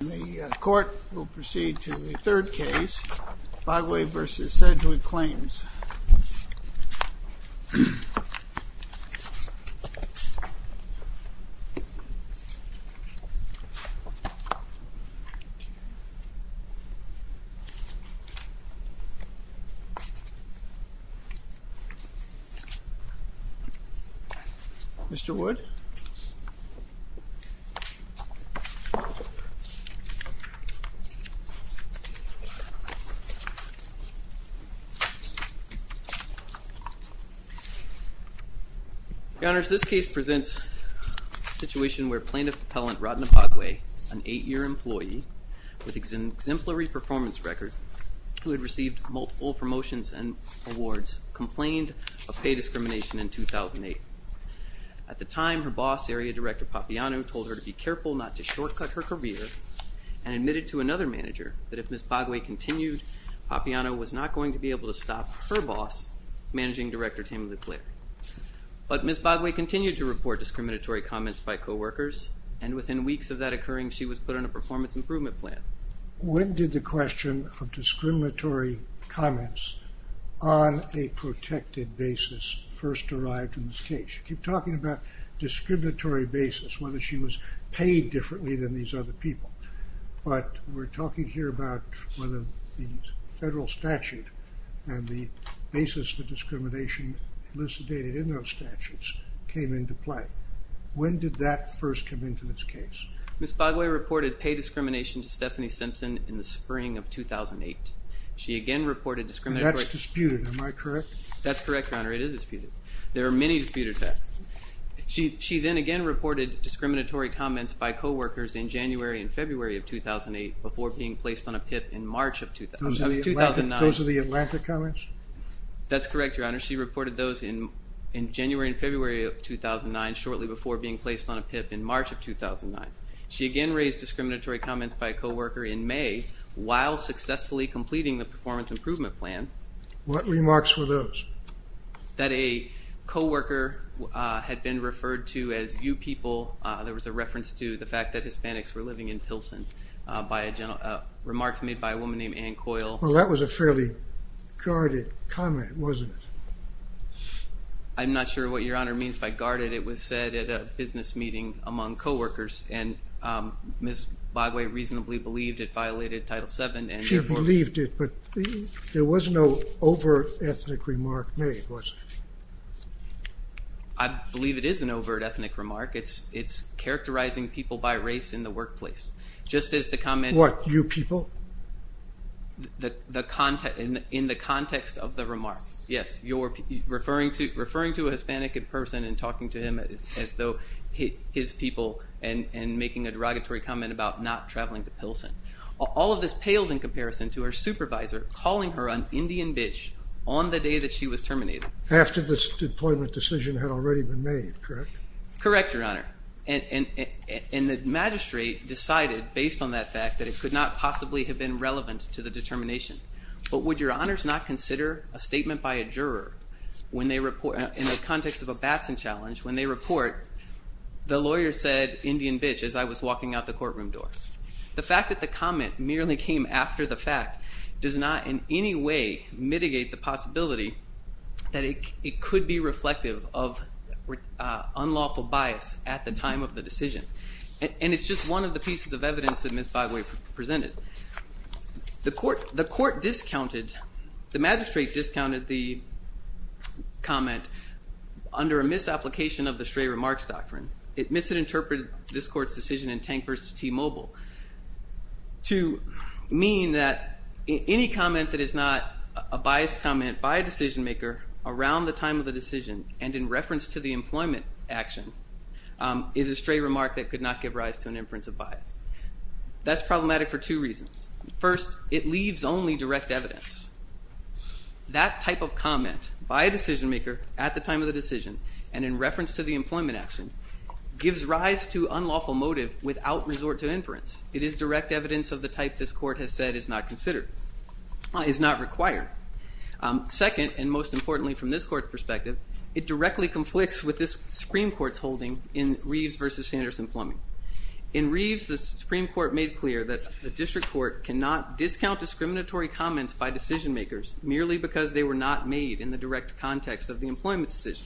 The court will proceed to the third case, Bagwe v. Sedgwick Claims. Mr. Wood. Your Honor, this case presents a situation where Plaintiff Appellant Rodna Bagwe, an eight-year employee with an exemplary performance record who had received multiple promotions and awards, complained of pay discrimination in 2008. At the time, her boss, Area Director Papiano, told her to be careful not to shortcut her career and admitted to another manager that if Ms. Bagwe continued, Papiano was not going to be able to stop her boss, Managing Director Tammy LeClaire. But Ms. Bagwe continued to report discriminatory comments by coworkers, and within weeks of that occurring, she was put on a performance improvement plan. When did the question of discriminatory comments on a protected basis first arrive in this case? You keep talking about discriminatory basis, whether she was paid differently than these other people, but we're talking here about whether the federal statute and the basis for discrimination elucidated in those statutes came into play. When did that first come into this case? Ms. Bagwe reported pay discrimination to Stephanie Simpson in the spring of 2008. She again reported discriminatory... And that's disputed, am I correct? That's correct, Your Honor. It is disputed. There are many disputed facts. She then again reported discriminatory comments by coworkers in January and February of 2008 before being placed on a PIP in March of 2009. Those are the Atlanta comments? That's correct, Your Honor. She reported those in January and February of 2009 shortly before being placed on a PIP in March of 2009. She again raised discriminatory comments by a coworker in May while successfully completing the performance improvement plan. What remarks were those? That a coworker had been referred to as you people. There was a reference to the fact that Hispanics were living in Pilsen by remarks made by a woman named Ann Coyle. Well, that was a fairly guarded comment, wasn't it? I'm not sure what Your Honor means by guarded. It was said at a business meeting among coworkers and Ms. Bagwe reasonably believed it violated Title VII and... She believed it, but there was no overt ethnic remark made, was there? I believe it is an overt ethnic remark. It's characterizing people by race in the workplace. Just as the comment... What, you people? In the context of the remark, yes. You're referring to a Hispanic person and talking to him as though his people and making a derogatory comment about not traveling to Pilsen. All of this pales in comparison to her supervisor calling her an Indian bitch on the day that she was terminated. After this deployment decision had already been made, correct? Correct, Your Honor, and the magistrate decided based on that fact that it could not possibly have been relevant to the determination, but would Your Honors not consider a statement by a juror in the context of a Batson challenge when they report, the lawyer said Indian bitch as I was walking out the courtroom door. The fact that the comment merely came after the fact does not in any way mitigate the possibility that it could be reflective of unlawful bias at the time of the decision. And it's just one of the pieces of evidence that Ms. Bagwe presented. The court discounted, the magistrate discounted the comment under a misapplication of the Stray Remarks Doctrine. It misinterpreted this court's decision in Tank versus T-Mobile to mean that any comment that is not a biased comment by a decision maker around the time of the decision and in reference to the employment action is a stray remark that could not give rise to an inference of bias. That's problematic for two reasons. First, it leaves only direct evidence. That type of comment by a decision maker at the time of the decision and in reference to the employment action gives rise to unlawful motive without resort to inference. It is direct evidence of the type this court has said is not required. Second, and most importantly from this court's perspective, it directly conflicts with this Supreme Court's holding in Reeves versus Sanderson-Plumbing. In Reeves, the Supreme Court made clear that the district court cannot discount discriminatory comments by decision makers merely because they were not made in the direct context of the employment decision.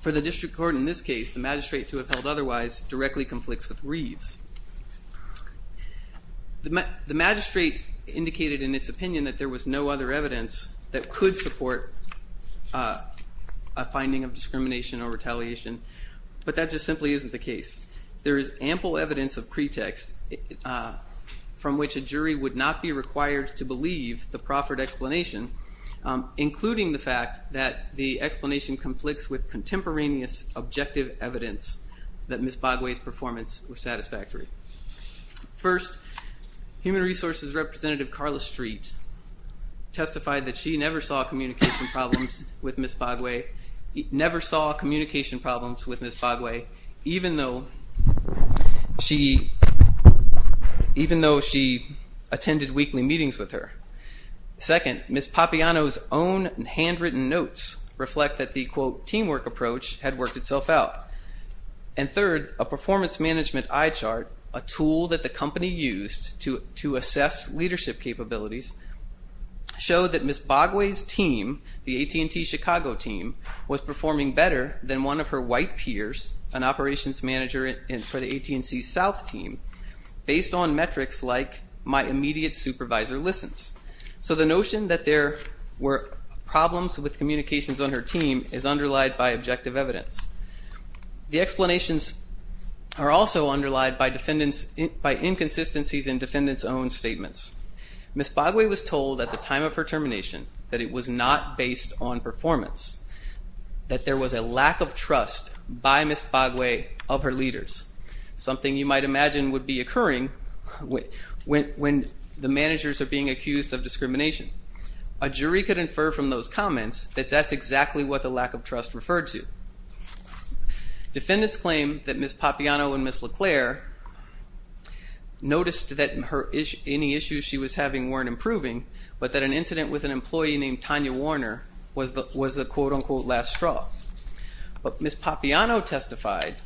For the district court in this case, the magistrate to have held otherwise directly conflicts with Reeves. The magistrate indicated in its opinion that there was no other evidence that could support a finding of discrimination or retaliation, but that just simply isn't the case. There is ample evidence of pretext from which a jury would not be required to believe the proffered explanation, including the fact that the explanation conflicts with contemporaneous objective evidence that Ms. Bogway's performance was satisfactory. First, Human Resources Representative Carla Street testified that she never saw communication problems with Ms. Bogway even though she attended weekly meetings with her. Second, Ms. Papiano's own handwritten notes reflect that the, quote, teamwork approach had worked itself out. And third, a performance management eye chart, a tool that the company used to assess leadership capabilities, showed that Ms. Bogway's team, the AT&T Chicago team, was performing better than one of her white peers, an operations manager for the AT&T South team, based on metrics like my immediate supervisor listens. So the notion that there were problems with communications on her team is underlied by objective evidence. The explanations are also underlied by inconsistencies in defendants' own statements. Ms. Bogway was told at the time of her termination that it was not based on performance, that there was a lack of trust by Ms. Bogway of her leaders, something you might imagine would be occurring when the managers are being accused of discrimination. A jury could infer from those comments that that's exactly what the lack of trust referred to. Defendants claim that Ms. Papiano and Ms. LeClaire noticed that any issues she was having weren't improving, but that an incident with an employee named Tanya Warner was the, quote, unquote, last straw. But Ms. Papiano testified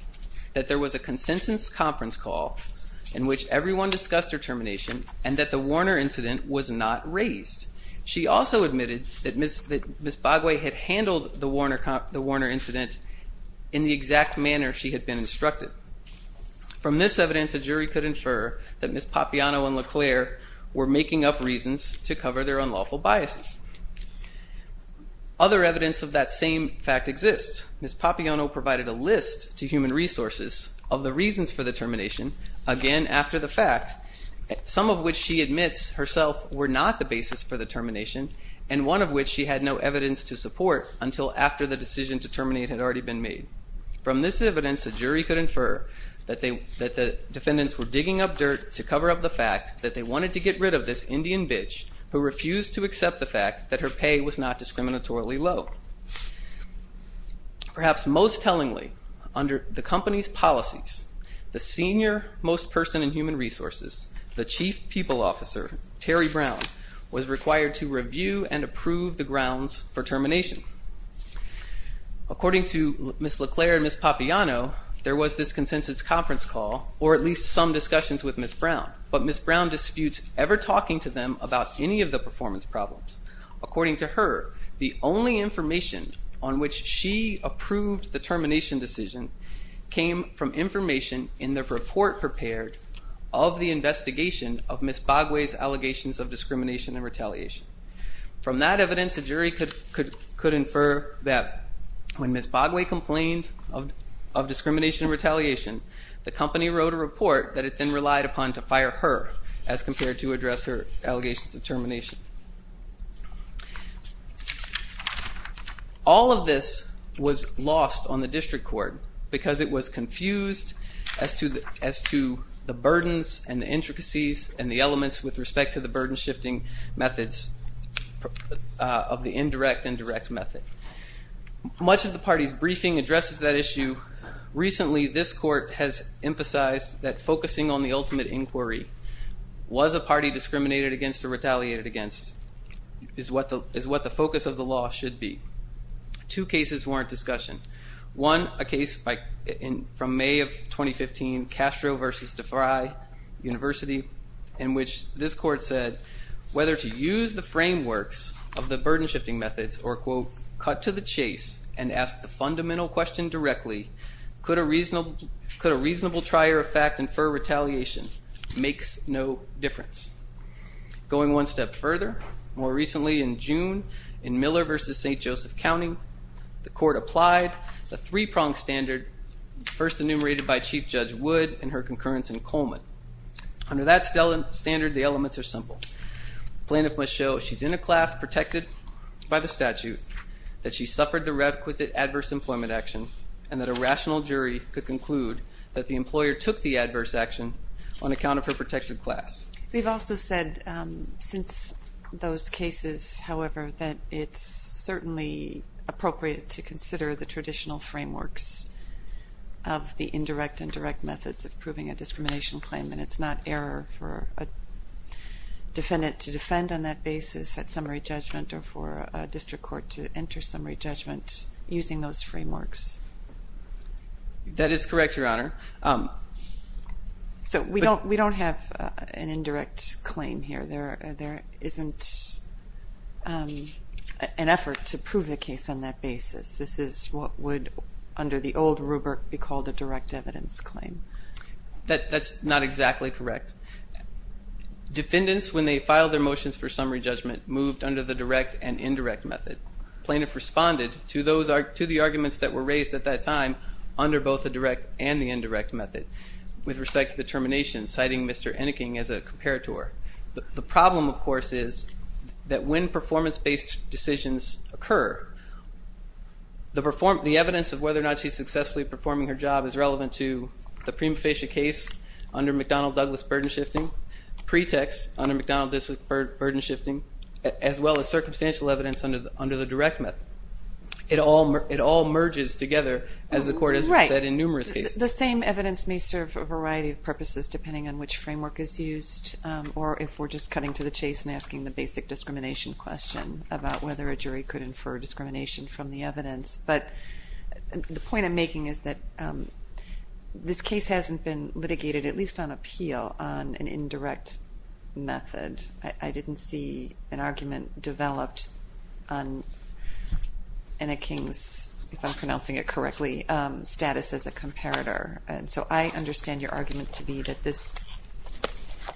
that there was a consensus conference call in which everyone discussed her termination and that the Warner incident was not raised. She also admitted that Ms. Bogway had handled the Warner incident in the exact manner she had been instructed. From this evidence, a jury could infer that Ms. Papiano and LeClaire were making up reasons to cover their unlawful biases. Other evidence of that same fact exists. Ms. Papiano provided a list to Human Resources of the reasons for the termination, again after the fact, some of which she admits herself were not the basis for the termination and one of which she had no evidence to support until after the decision to terminate had already been made. From this evidence, a jury could infer that the defendants were digging up dirt to cover up the fact that they wanted to get rid of this Indian bitch who refused to accept the fact that her pay was not discriminatorily low. Perhaps most tellingly, under the company's policies, the senior most person in Human Resources, the Chief People Officer, Terry Brown, was required to review and approve the grounds for termination. According to Ms. LeClaire and Ms. Papiano, there was this consensus conference call or at least some discussions with Ms. Brown, but Ms. Brown disputes ever talking to them about any of the performance problems. According to her, the only information on which she approved the termination decision came from information in the report prepared of the investigation of Ms. Bogway's allegations of discrimination and retaliation. From that evidence, a jury could infer that when Ms. Bogway complained of discrimination and retaliation, the company wrote a report that it then relied upon to fire her as compared to address her allegations of termination. All of this was lost on the district court because it was confused as to the burdens and the intricacies and the elements with respect to the burden shifting methods of the indirect and direct method. Recently, this court has emphasized that focusing on the ultimate inquiry, was a party discriminated against or retaliated against, is what the focus of the law should be. Two cases warrant discussion. One, a case from May of 2015, Castro versus DeFry University, in which this court said whether to use the frameworks of the burden shifting methods or quote, cut to the chase and ask the fundamental question directly, could a reasonable trier of fact infer retaliation makes no difference. Going one step further, more recently in June, in Miller versus St. Joseph County, the court applied the three-pronged standard first enumerated by Chief Judge Wood and her concurrence in Coleman. Under that standard, the elements are simple. Plaintiff must show she's in a class protected by the statute, that she suffered the requisite adverse employment action, and that a rational jury could conclude that the employer took the adverse action on account of her protected class. We've also said since those cases, however, that it's certainly appropriate to consider the traditional frameworks of the indirect and direct methods of a defendant to defend on that basis at summary judgment or for a district court to enter summary judgment using those frameworks. That is correct, Your Honor. So we don't have an indirect claim here. There isn't an effort to prove the case on that basis. This is what would, under the old rubric, be called a direct evidence claim. That's not exactly correct. Defendants, when they filed their motions for summary judgment, moved under the direct and indirect method. Plaintiff responded to the arguments that were raised at that time under both the direct and the indirect method with respect to the termination, citing Mr. Enneking as a comparator. The problem, of course, is that when performance-based decisions occur, the evidence of whether or not she's successfully performing her job is relevant to the prima facie case under McDonnell-Douglas burden shifting, pretext under McDonnell-Douglas burden shifting, as well as circumstantial evidence under the direct method. It all merges together, as the court has said in numerous cases. Right. The same evidence may serve a variety of purposes depending on which framework is used or if we're just cutting to the chase and asking the basic discrimination question about whether a jury could infer discrimination from the evidence. The point I'm making is that this case hasn't been litigated, at least on appeal, on an indirect method. I didn't see an argument developed on Enneking's, if I'm pronouncing it correctly, status as a comparator. I understand your argument to be that this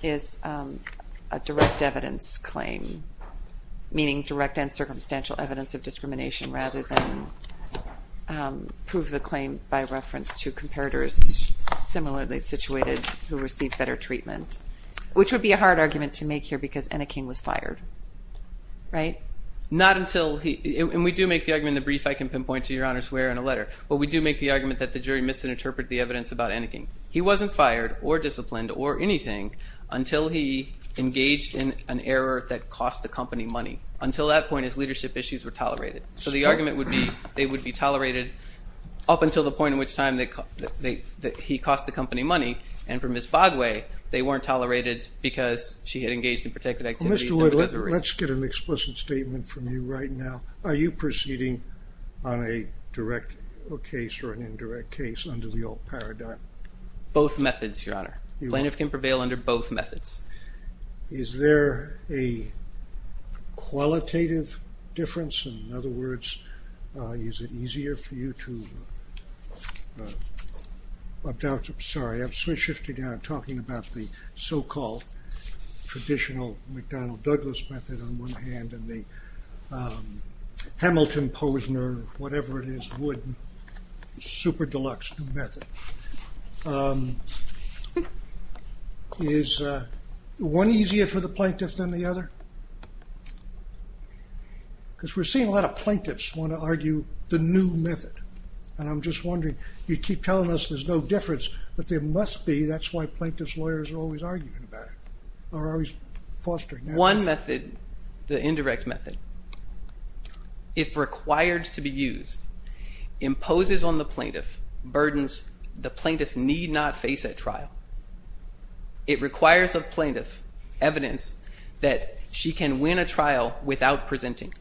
is a direct evidence claim, meaning direct and circumstantial evidence of discrimination rather than prove the claim by reference to comparators similarly situated who received better treatment, which would be a hard argument to make here because Enneking was fired. Right? Not until he, and we do make the argument in the brief, I can pinpoint to your honors where in a letter, but we do make the argument that the jury misinterpreted the evidence about Enneking. He wasn't fired or disciplined or anything until he engaged in an error that cost the company money. Until that point, his leadership issues were tolerated. So the argument would be they would be tolerated up until the point in which time that he cost the company money, and for Ms. Bogway, they weren't tolerated because she had engaged in protected activities. Mr. Wood, let's get an explicit statement from you right now. Are you proceeding on a direct case or an indirect case under the old paradigm? Both methods, your honor. Plaintiff can prevail under both methods. Is there a qualitative difference? In other words, is it easier for you to, I'm sorry, I'm swiftly shifting down, talking about the so-called traditional McDonnell-Douglas method on one hand and the Hamilton-Posner, whatever it is, Wood, super deluxe method. Is one easier for the plaintiff than the other? Because we're seeing a lot of plaintiffs want to argue the new method. And I'm just wondering, you keep telling us there's no difference, but there must be. That's why plaintiff's lawyers are always arguing about it or always fostering that. One method, the indirect method, if required to be used, imposes on the plaintiff need not face at trial. It requires a plaintiff evidence that she can win a trial without presenting.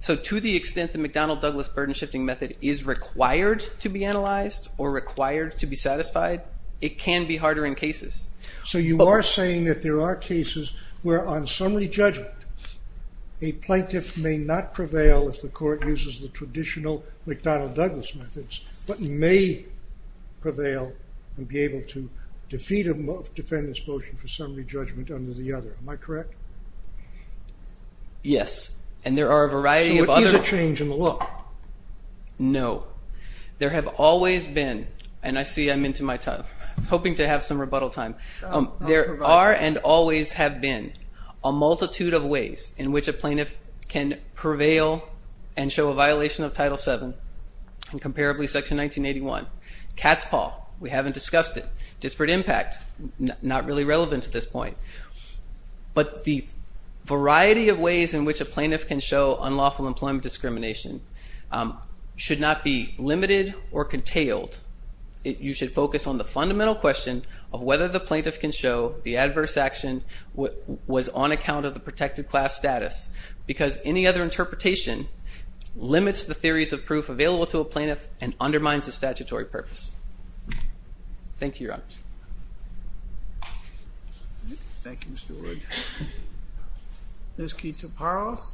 So to the extent the McDonnell-Douglas burden shifting method is required to be analyzed or required to be satisfied, it can be harder in cases. So you are saying that there are cases where on summary judgment a plaintiff may not prevail if the court uses the traditional McDonnell-Douglas methods but may prevail and be able to defeat a defendant's motion for summary judgment under the other. Am I correct? Yes. And there are a variety of other. So is there a change in the law? No. There have always been, and I see I'm into my time, hoping to have some rebuttal time. There are and always have been a multitude of ways in which a plaintiff can prevail and show a violation of Title VII and comparably Section 1981. Catspaw, we haven't discussed it. Disparate impact, not really relevant at this point. But the variety of ways in which a plaintiff can show unlawful employment discrimination should not be limited or contailed. You should focus on the fundamental question of whether the plaintiff can show the adverse action was on account of the protected class status because any other interpretation limits the theories of proof available to a plaintiff and undermines the statutory purpose. Thank you, Your Honors. Thank you, Mr. Wood. Ms. Keetha Parl.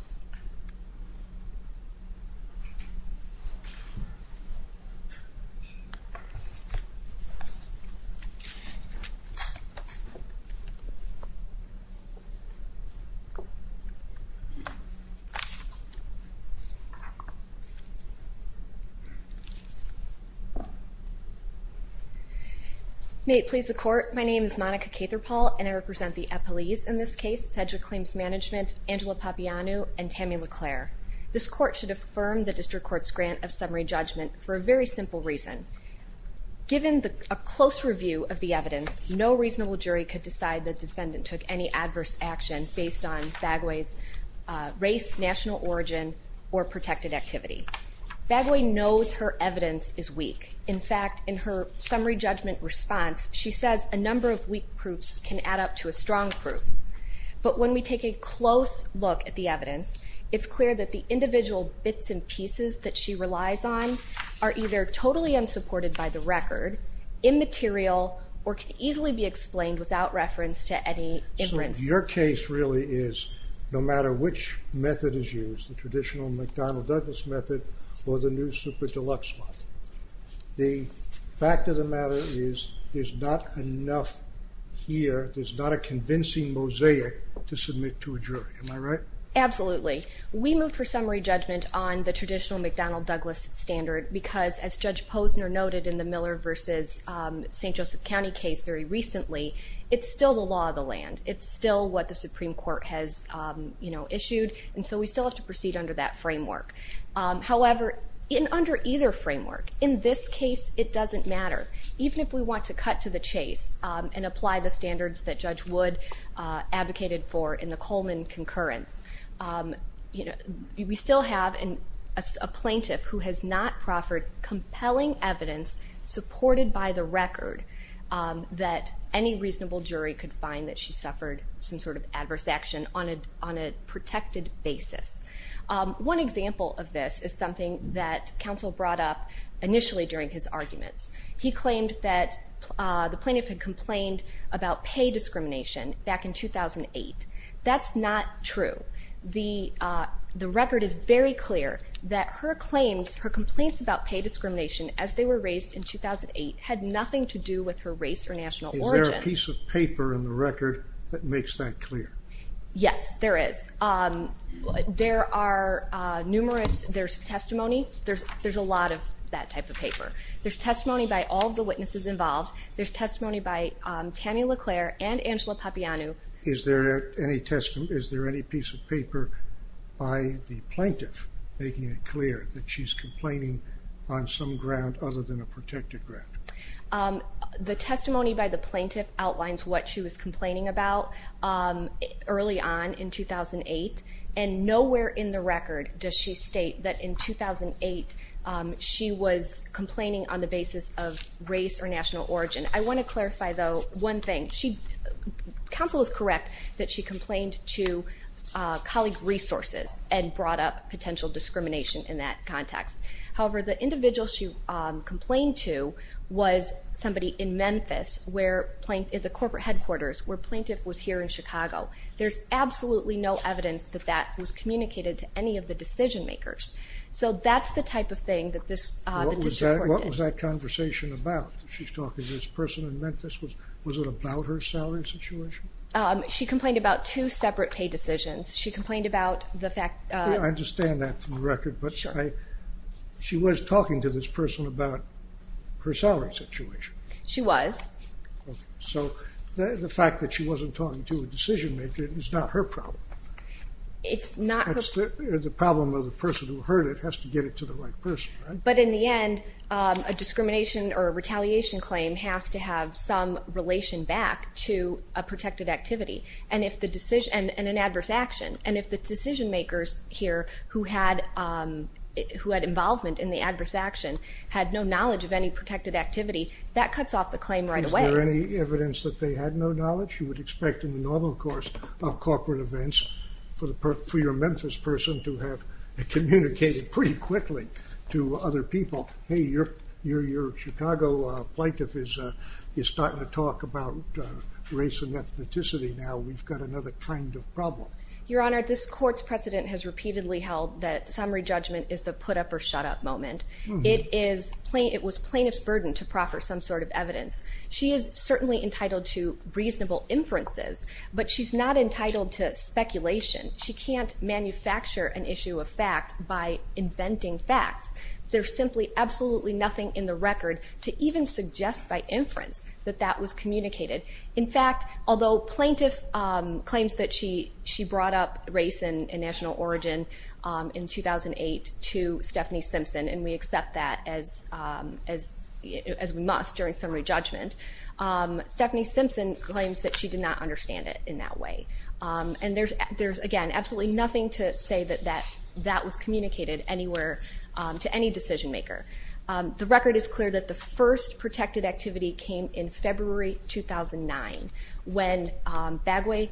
May it please the Court. My name is Monica Keetha Parl, and I represent the appellees in this case, Cedra Claims Management, Angela Papianu, and Tammy LeClaire. This Court should affirm the District Court's grant of summary judgment for a very simple reason. Given a close review of the evidence, no reasonable jury could decide the defendant took any adverse action based on Bagui's race, national origin, or protected activity. Bagui knows her evidence is weak. In fact, in her summary judgment response, she says a number of weak proofs can add up to a strong proof. But when we take a close look at the evidence, it's clear that the individual bits and pieces that she relies on are either totally unsupported by the record, immaterial, or can easily be explained without reference to any inference. So your case really is no matter which method is used, the traditional McDonnell-Douglas method or the new super deluxe model. The fact of the matter is there's not enough here, there's not a convincing mosaic to submit to a jury. Am I right? Absolutely. We moved for summary judgment on the traditional McDonnell-Douglas standard because, as Judge Posner noted in the Miller v. St. Joseph County case very recently, it's still the law of the land. It's still what the Supreme Court has issued, and so we still have to proceed under that framework. However, under either framework, in this case it doesn't matter. Even if we want to cut to the chase and apply the standards that Judge Wood advocated for in the Coleman concurrence, we still have a plaintiff who has not proffered compelling evidence supported by the record that any reasonable jury could find that she suffered some sort of adverse action on a protected basis. One example of this is something that counsel brought up initially during his arguments. He claimed that the plaintiff had complained about pay discrimination back in 2008. That's not true. The record is very clear that her claims, her complaints about pay discrimination as they were raised in 2008 had nothing to do with her race or national origin. Is there a piece of paper in the record that makes that clear? Yes, there is. There's testimony. There's a lot of that type of paper. There's testimony by all of the witnesses involved. There's testimony by Tammy LeClaire and Angela Papianu. Is there any piece of paper by the plaintiff making it clear that she's complaining on some ground other than a protected ground? The testimony by the plaintiff outlines what she was complaining about early on in 2008, and nowhere in the record does she state that in 2008 she was complaining on the basis of race or national origin. I want to clarify, though, one thing. Counsel is correct that she complained to colleague resources and brought up potential discrimination in that context. However, the individual she complained to was somebody in Memphis, the corporate headquarters where the plaintiff was here in Chicago. There's absolutely no evidence that that was communicated to any of the decision makers. So that's the type of thing that the district court did. What was that conversation about? She's talking to this person in Memphis. Was it about her salary situation? She complained about two separate pay decisions. She complained about the fact... I understand that for the record, but she was talking to this person about her salary situation. She was. So the fact that she wasn't talking to a decision maker is not her problem. It's not her... It's the problem of the person who heard it has to get it to the right person. But in the end, a discrimination or a retaliation claim has to have some relation back to a protected activity and an adverse action. And if the decision makers here who had involvement in the adverse action had no knowledge of any protected activity, that cuts off the claim right away. Is there any evidence that they had no knowledge? You would expect in the normal course of corporate events for your Memphis person to have communicated pretty quickly to other people. Hey, your Chicago plaintiff is starting to talk about race and ethnicity now. We've got another kind of problem. Your Honor, this court's precedent has repeatedly held that summary judgment is the put up or shut up moment. It was plaintiff's burden to proffer some sort of evidence. She is certainly entitled to reasonable inferences, but she's not entitled to speculation. She can't manufacture an issue of fact by inventing facts. There's simply absolutely nothing in the record to even suggest by inference that that was communicated. In fact, although plaintiff claims that she brought up race and national origin in 2008 to Stephanie Simpson, and we accept that as we must during summary judgment, Stephanie Simpson claims that she did not understand it in that way. And there's, again, absolutely nothing to say that that was communicated anywhere to any decision maker. The record is clear that the first protected activity came in February 2009 when Bagway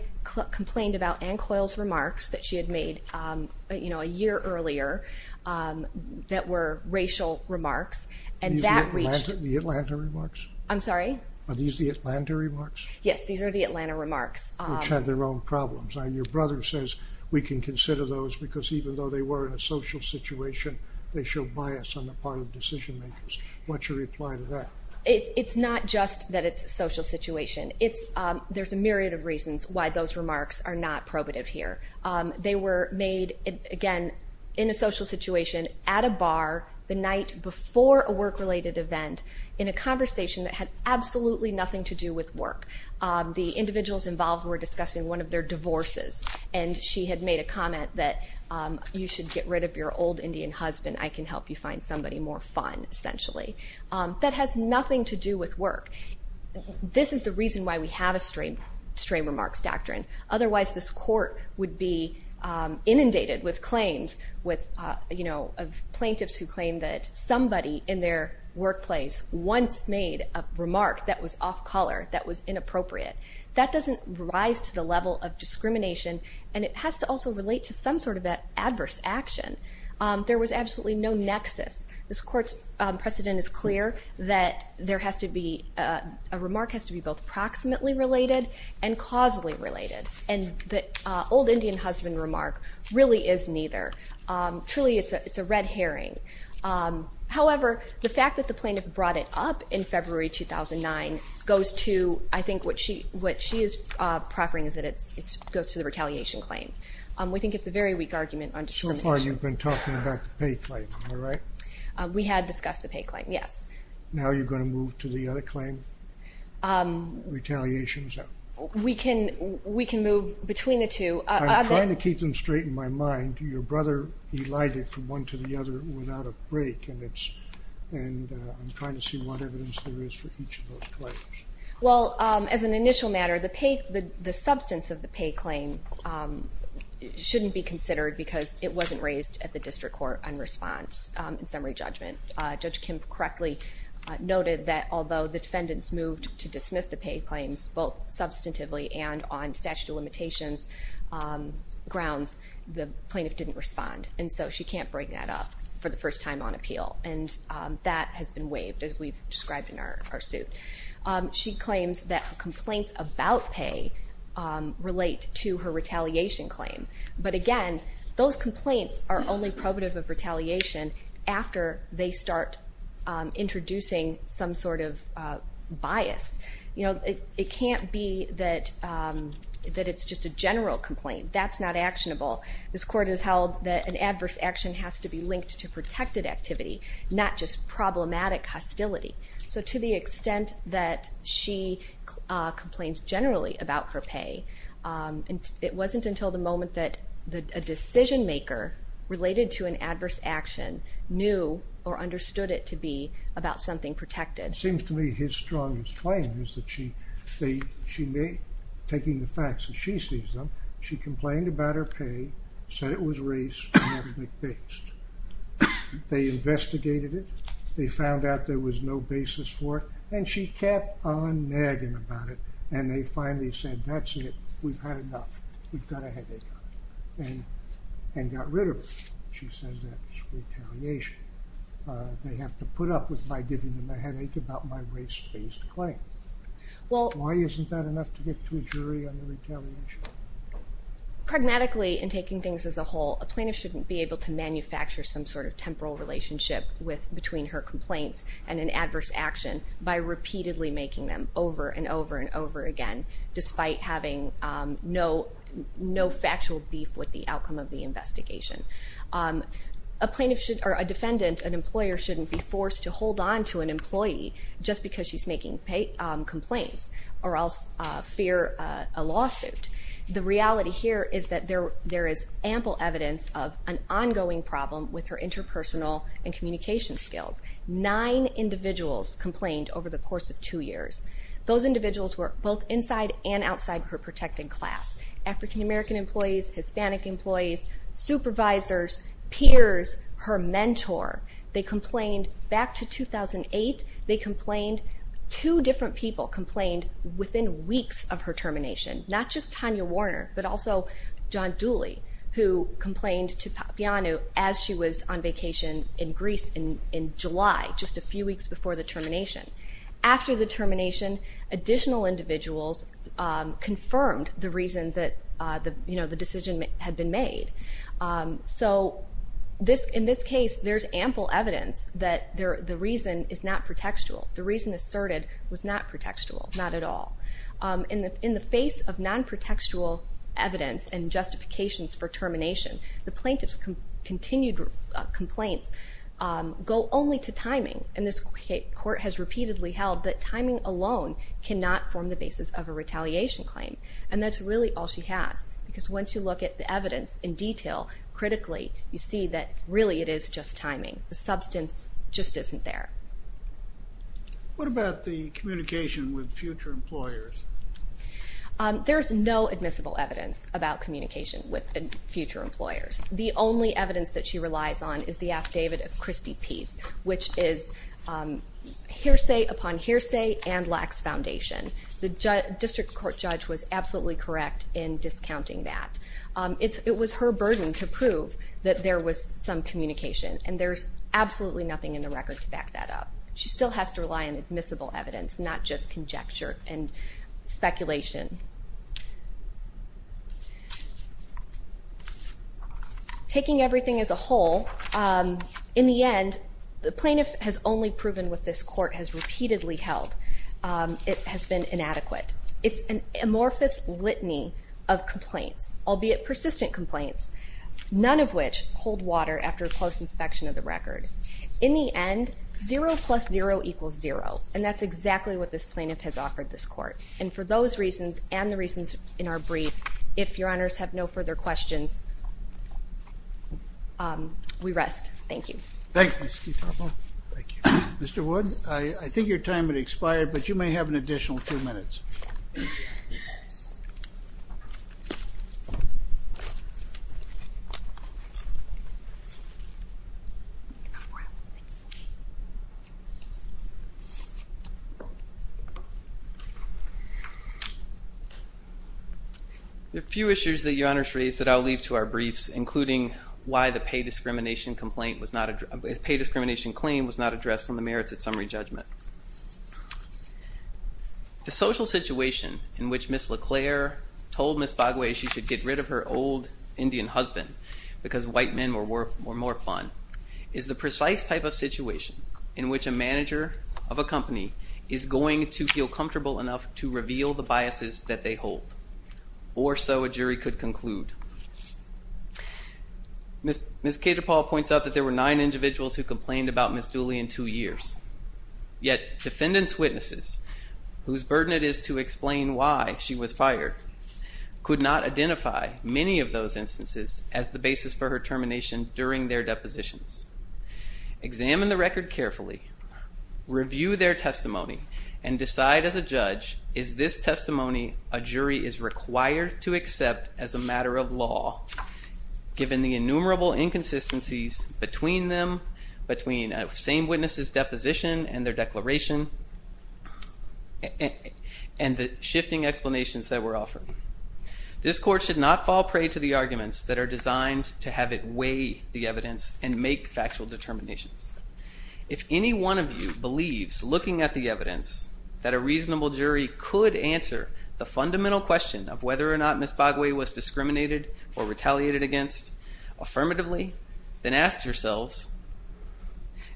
complained about Ann Coyle's remarks that she had made a year earlier that were racial remarks, and that reached... Are these the Atlanta remarks? I'm sorry? Are these the Atlanta remarks? Yes, these are the Atlanta remarks. Which had their own problems. Now, your brother says we can consider those because even though they were in a social situation, they show bias on the part of decision makers. What's your reply to that? It's not just that it's a social situation. There's a myriad of reasons why those remarks are not probative here. They were made, again, in a social situation, at a bar, the night before a work-related event, in a conversation that had absolutely nothing to do with work. The individuals involved were discussing one of their divorces, and she had made a comment that you should get rid of your old Indian husband. I can help you find somebody more fun, essentially. That has nothing to do with work. This is the reason why we have a stray remarks doctrine. Otherwise, this court would be inundated with claims of plaintiffs who claim that somebody in their workplace once made a remark that was off color, that was inappropriate. That doesn't rise to the level of discrimination, and it has to also relate to some sort of adverse action. There was absolutely no nexus. This court's precedent is clear that a remark has to be both proximately related and causally related, and the old Indian husband remark really is neither. Truly, it's a red herring. However, the fact that the plaintiff brought it up in February 2009 goes to, I think what she is proffering is that it goes to the retaliation claim. We think it's a very weak argument on discrimination. So far you've been talking about the pay claim, am I right? We had discussed the pay claim, yes. Now you're going to move to the other claim, retaliation? We can move between the two. I'm trying to keep them straight in my mind. Your brother elided from one to the other without a break, and I'm trying to see what evidence there is for each of those claims. Well, as an initial matter, the substance of the pay claim shouldn't be considered because it wasn't raised at the district court in response in summary judgment. Judge Kim correctly noted that although the defendants moved to dismiss the pay claims, both substantively and on statute of limitations grounds, the plaintiff didn't respond. And so she can't bring that up for the first time on appeal. And that has been waived, as we've described in our suit. She claims that complaints about pay relate to her retaliation claim. But, again, those complaints are only probative of retaliation after they start introducing some sort of bias. It can't be that it's just a general complaint. That's not actionable. This court has held that an adverse action has to be linked to protected activity, not just problematic hostility. So to the extent that she complains generally about her pay, it wasn't until the moment that a decision-maker related to an adverse action knew or understood it to be about something protected. It seems to me his strongest claim is that she may, taking the facts as she sees them, she complained about her pay, said it was race- and ethnic-based. They investigated it. They found out there was no basis for it. And she kept on nagging about it. And they finally said, that's it. We've had enough. We've got a headache on you. And got rid of it. She says that's retaliation. They have to put up with my giving them a headache about my race-based claim. Why isn't that enough to get to a jury on the retaliation? Pragmatically, in taking things as a whole, a plaintiff shouldn't be able to manufacture some sort of temporal relationship between her complaints and an adverse action by repeatedly making them over and over and over again, despite having no factual beef with the outcome of the investigation. A defendant, an employer, shouldn't be forced to hold on to an employee just because she's making complaints or else fear a lawsuit. The reality here is that there is ample evidence of an ongoing problem with her interpersonal and communication skills. Nine individuals complained over the course of two years. Those individuals were both inside and outside her protecting class, African-American employees, Hispanic employees, supervisors, peers, her mentor. They complained back to 2008. Two different people complained within weeks of her termination, not just Tanya Warner but also John Dooley, who complained to Papiano as she was on vacation in Greece in July, just a few weeks before the termination. After the termination, additional individuals confirmed the reason that the decision had been made. So in this case, there's ample evidence that the reason is not pretextual. The reason asserted was not pretextual, not at all. In the face of non-pretextual evidence and justifications for termination, the plaintiff's continued complaints go only to timing, and this court has repeatedly held that timing alone cannot form the basis of a retaliation claim, and that's really all she has because once you look at the evidence in detail, critically, you see that really it is just timing. The substance just isn't there. What about the communication with future employers? There's no admissible evidence about communication with future employers. The only evidence that she relies on is the affidavit of Christie Peace, which is hearsay upon hearsay and lacks foundation. The district court judge was absolutely correct in discounting that. It was her burden to prove that there was some communication, and there's absolutely nothing in the record to back that up. She still has to rely on admissible evidence, not just conjecture and speculation. Taking everything as a whole, in the end, the plaintiff has only proven what this court has repeatedly held. It has been inadequate. It's an amorphous litany of complaints, albeit persistent complaints, none of which hold water after a close inspection of the record. In the end, zero plus zero equals zero, and that's exactly what this plaintiff has offered this court, and for those reasons and the reasons in our brief, if Your Honors have no further questions, we rest. Thank you. Thank you, Ms. Skitarpa. Thank you. Mr. Wood, I think your time has expired, but you may have an additional two minutes. The few issues that Your Honors raised that I'll leave to our briefs, including why the pay discrimination claim was not addressed on the merits of summary judgment. The social situation in which Ms. LeClaire told Ms. Bogway she should get rid of her old Indian husband because white men were more fun is the precise type of situation in which a manager of a company is going to feel comfortable enough to reveal the biases that they hold, or so a jury could conclude. Ms. Skitarpa points out that there were nine individuals who complained about Ms. Dooley in two years, yet defendants' witnesses, whose burden it is to explain why she was fired, could not identify many of those instances as the basis for her termination during their depositions. Examine the record carefully, review their testimony, and decide as a judge, is this testimony a jury is required to accept as a matter of law, given the innumerable inconsistencies between them, between a same witness' deposition and their declaration, and the shifting explanations that were offered. This court should not fall prey to the arguments that are designed to have it weigh the evidence and make factual determinations. If any one of you believes, looking at the evidence, that a reasonable jury could answer the fundamental question of whether or not Ms. Bogway was discriminated or retaliated against affirmatively, then ask yourselves,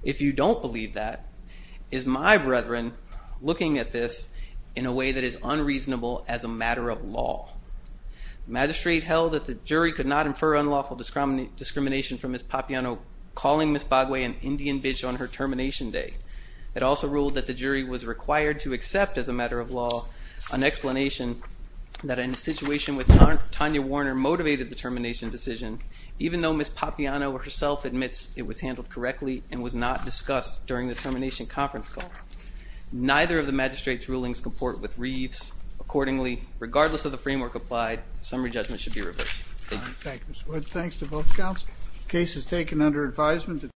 if you don't believe that, is my brethren looking at this in a way that is unreasonable as a matter of law? The magistrate held that the jury could not infer unlawful discrimination from Ms. Papiano calling Ms. Bogway an Indian bitch on her termination day. It also ruled that the jury was required to accept, as a matter of law, an explanation that in a situation with Tanya Warner motivated the termination decision, even though Ms. Papiano herself admits it was handled correctly and was not discussed during the termination conference call. Neither of the magistrate's rulings comport with Reeves. Accordingly, regardless of the framework applied, summary judgment should be reversed. Thank you, Mr. Wood. Thanks to both counsel. The case is taken under advisement.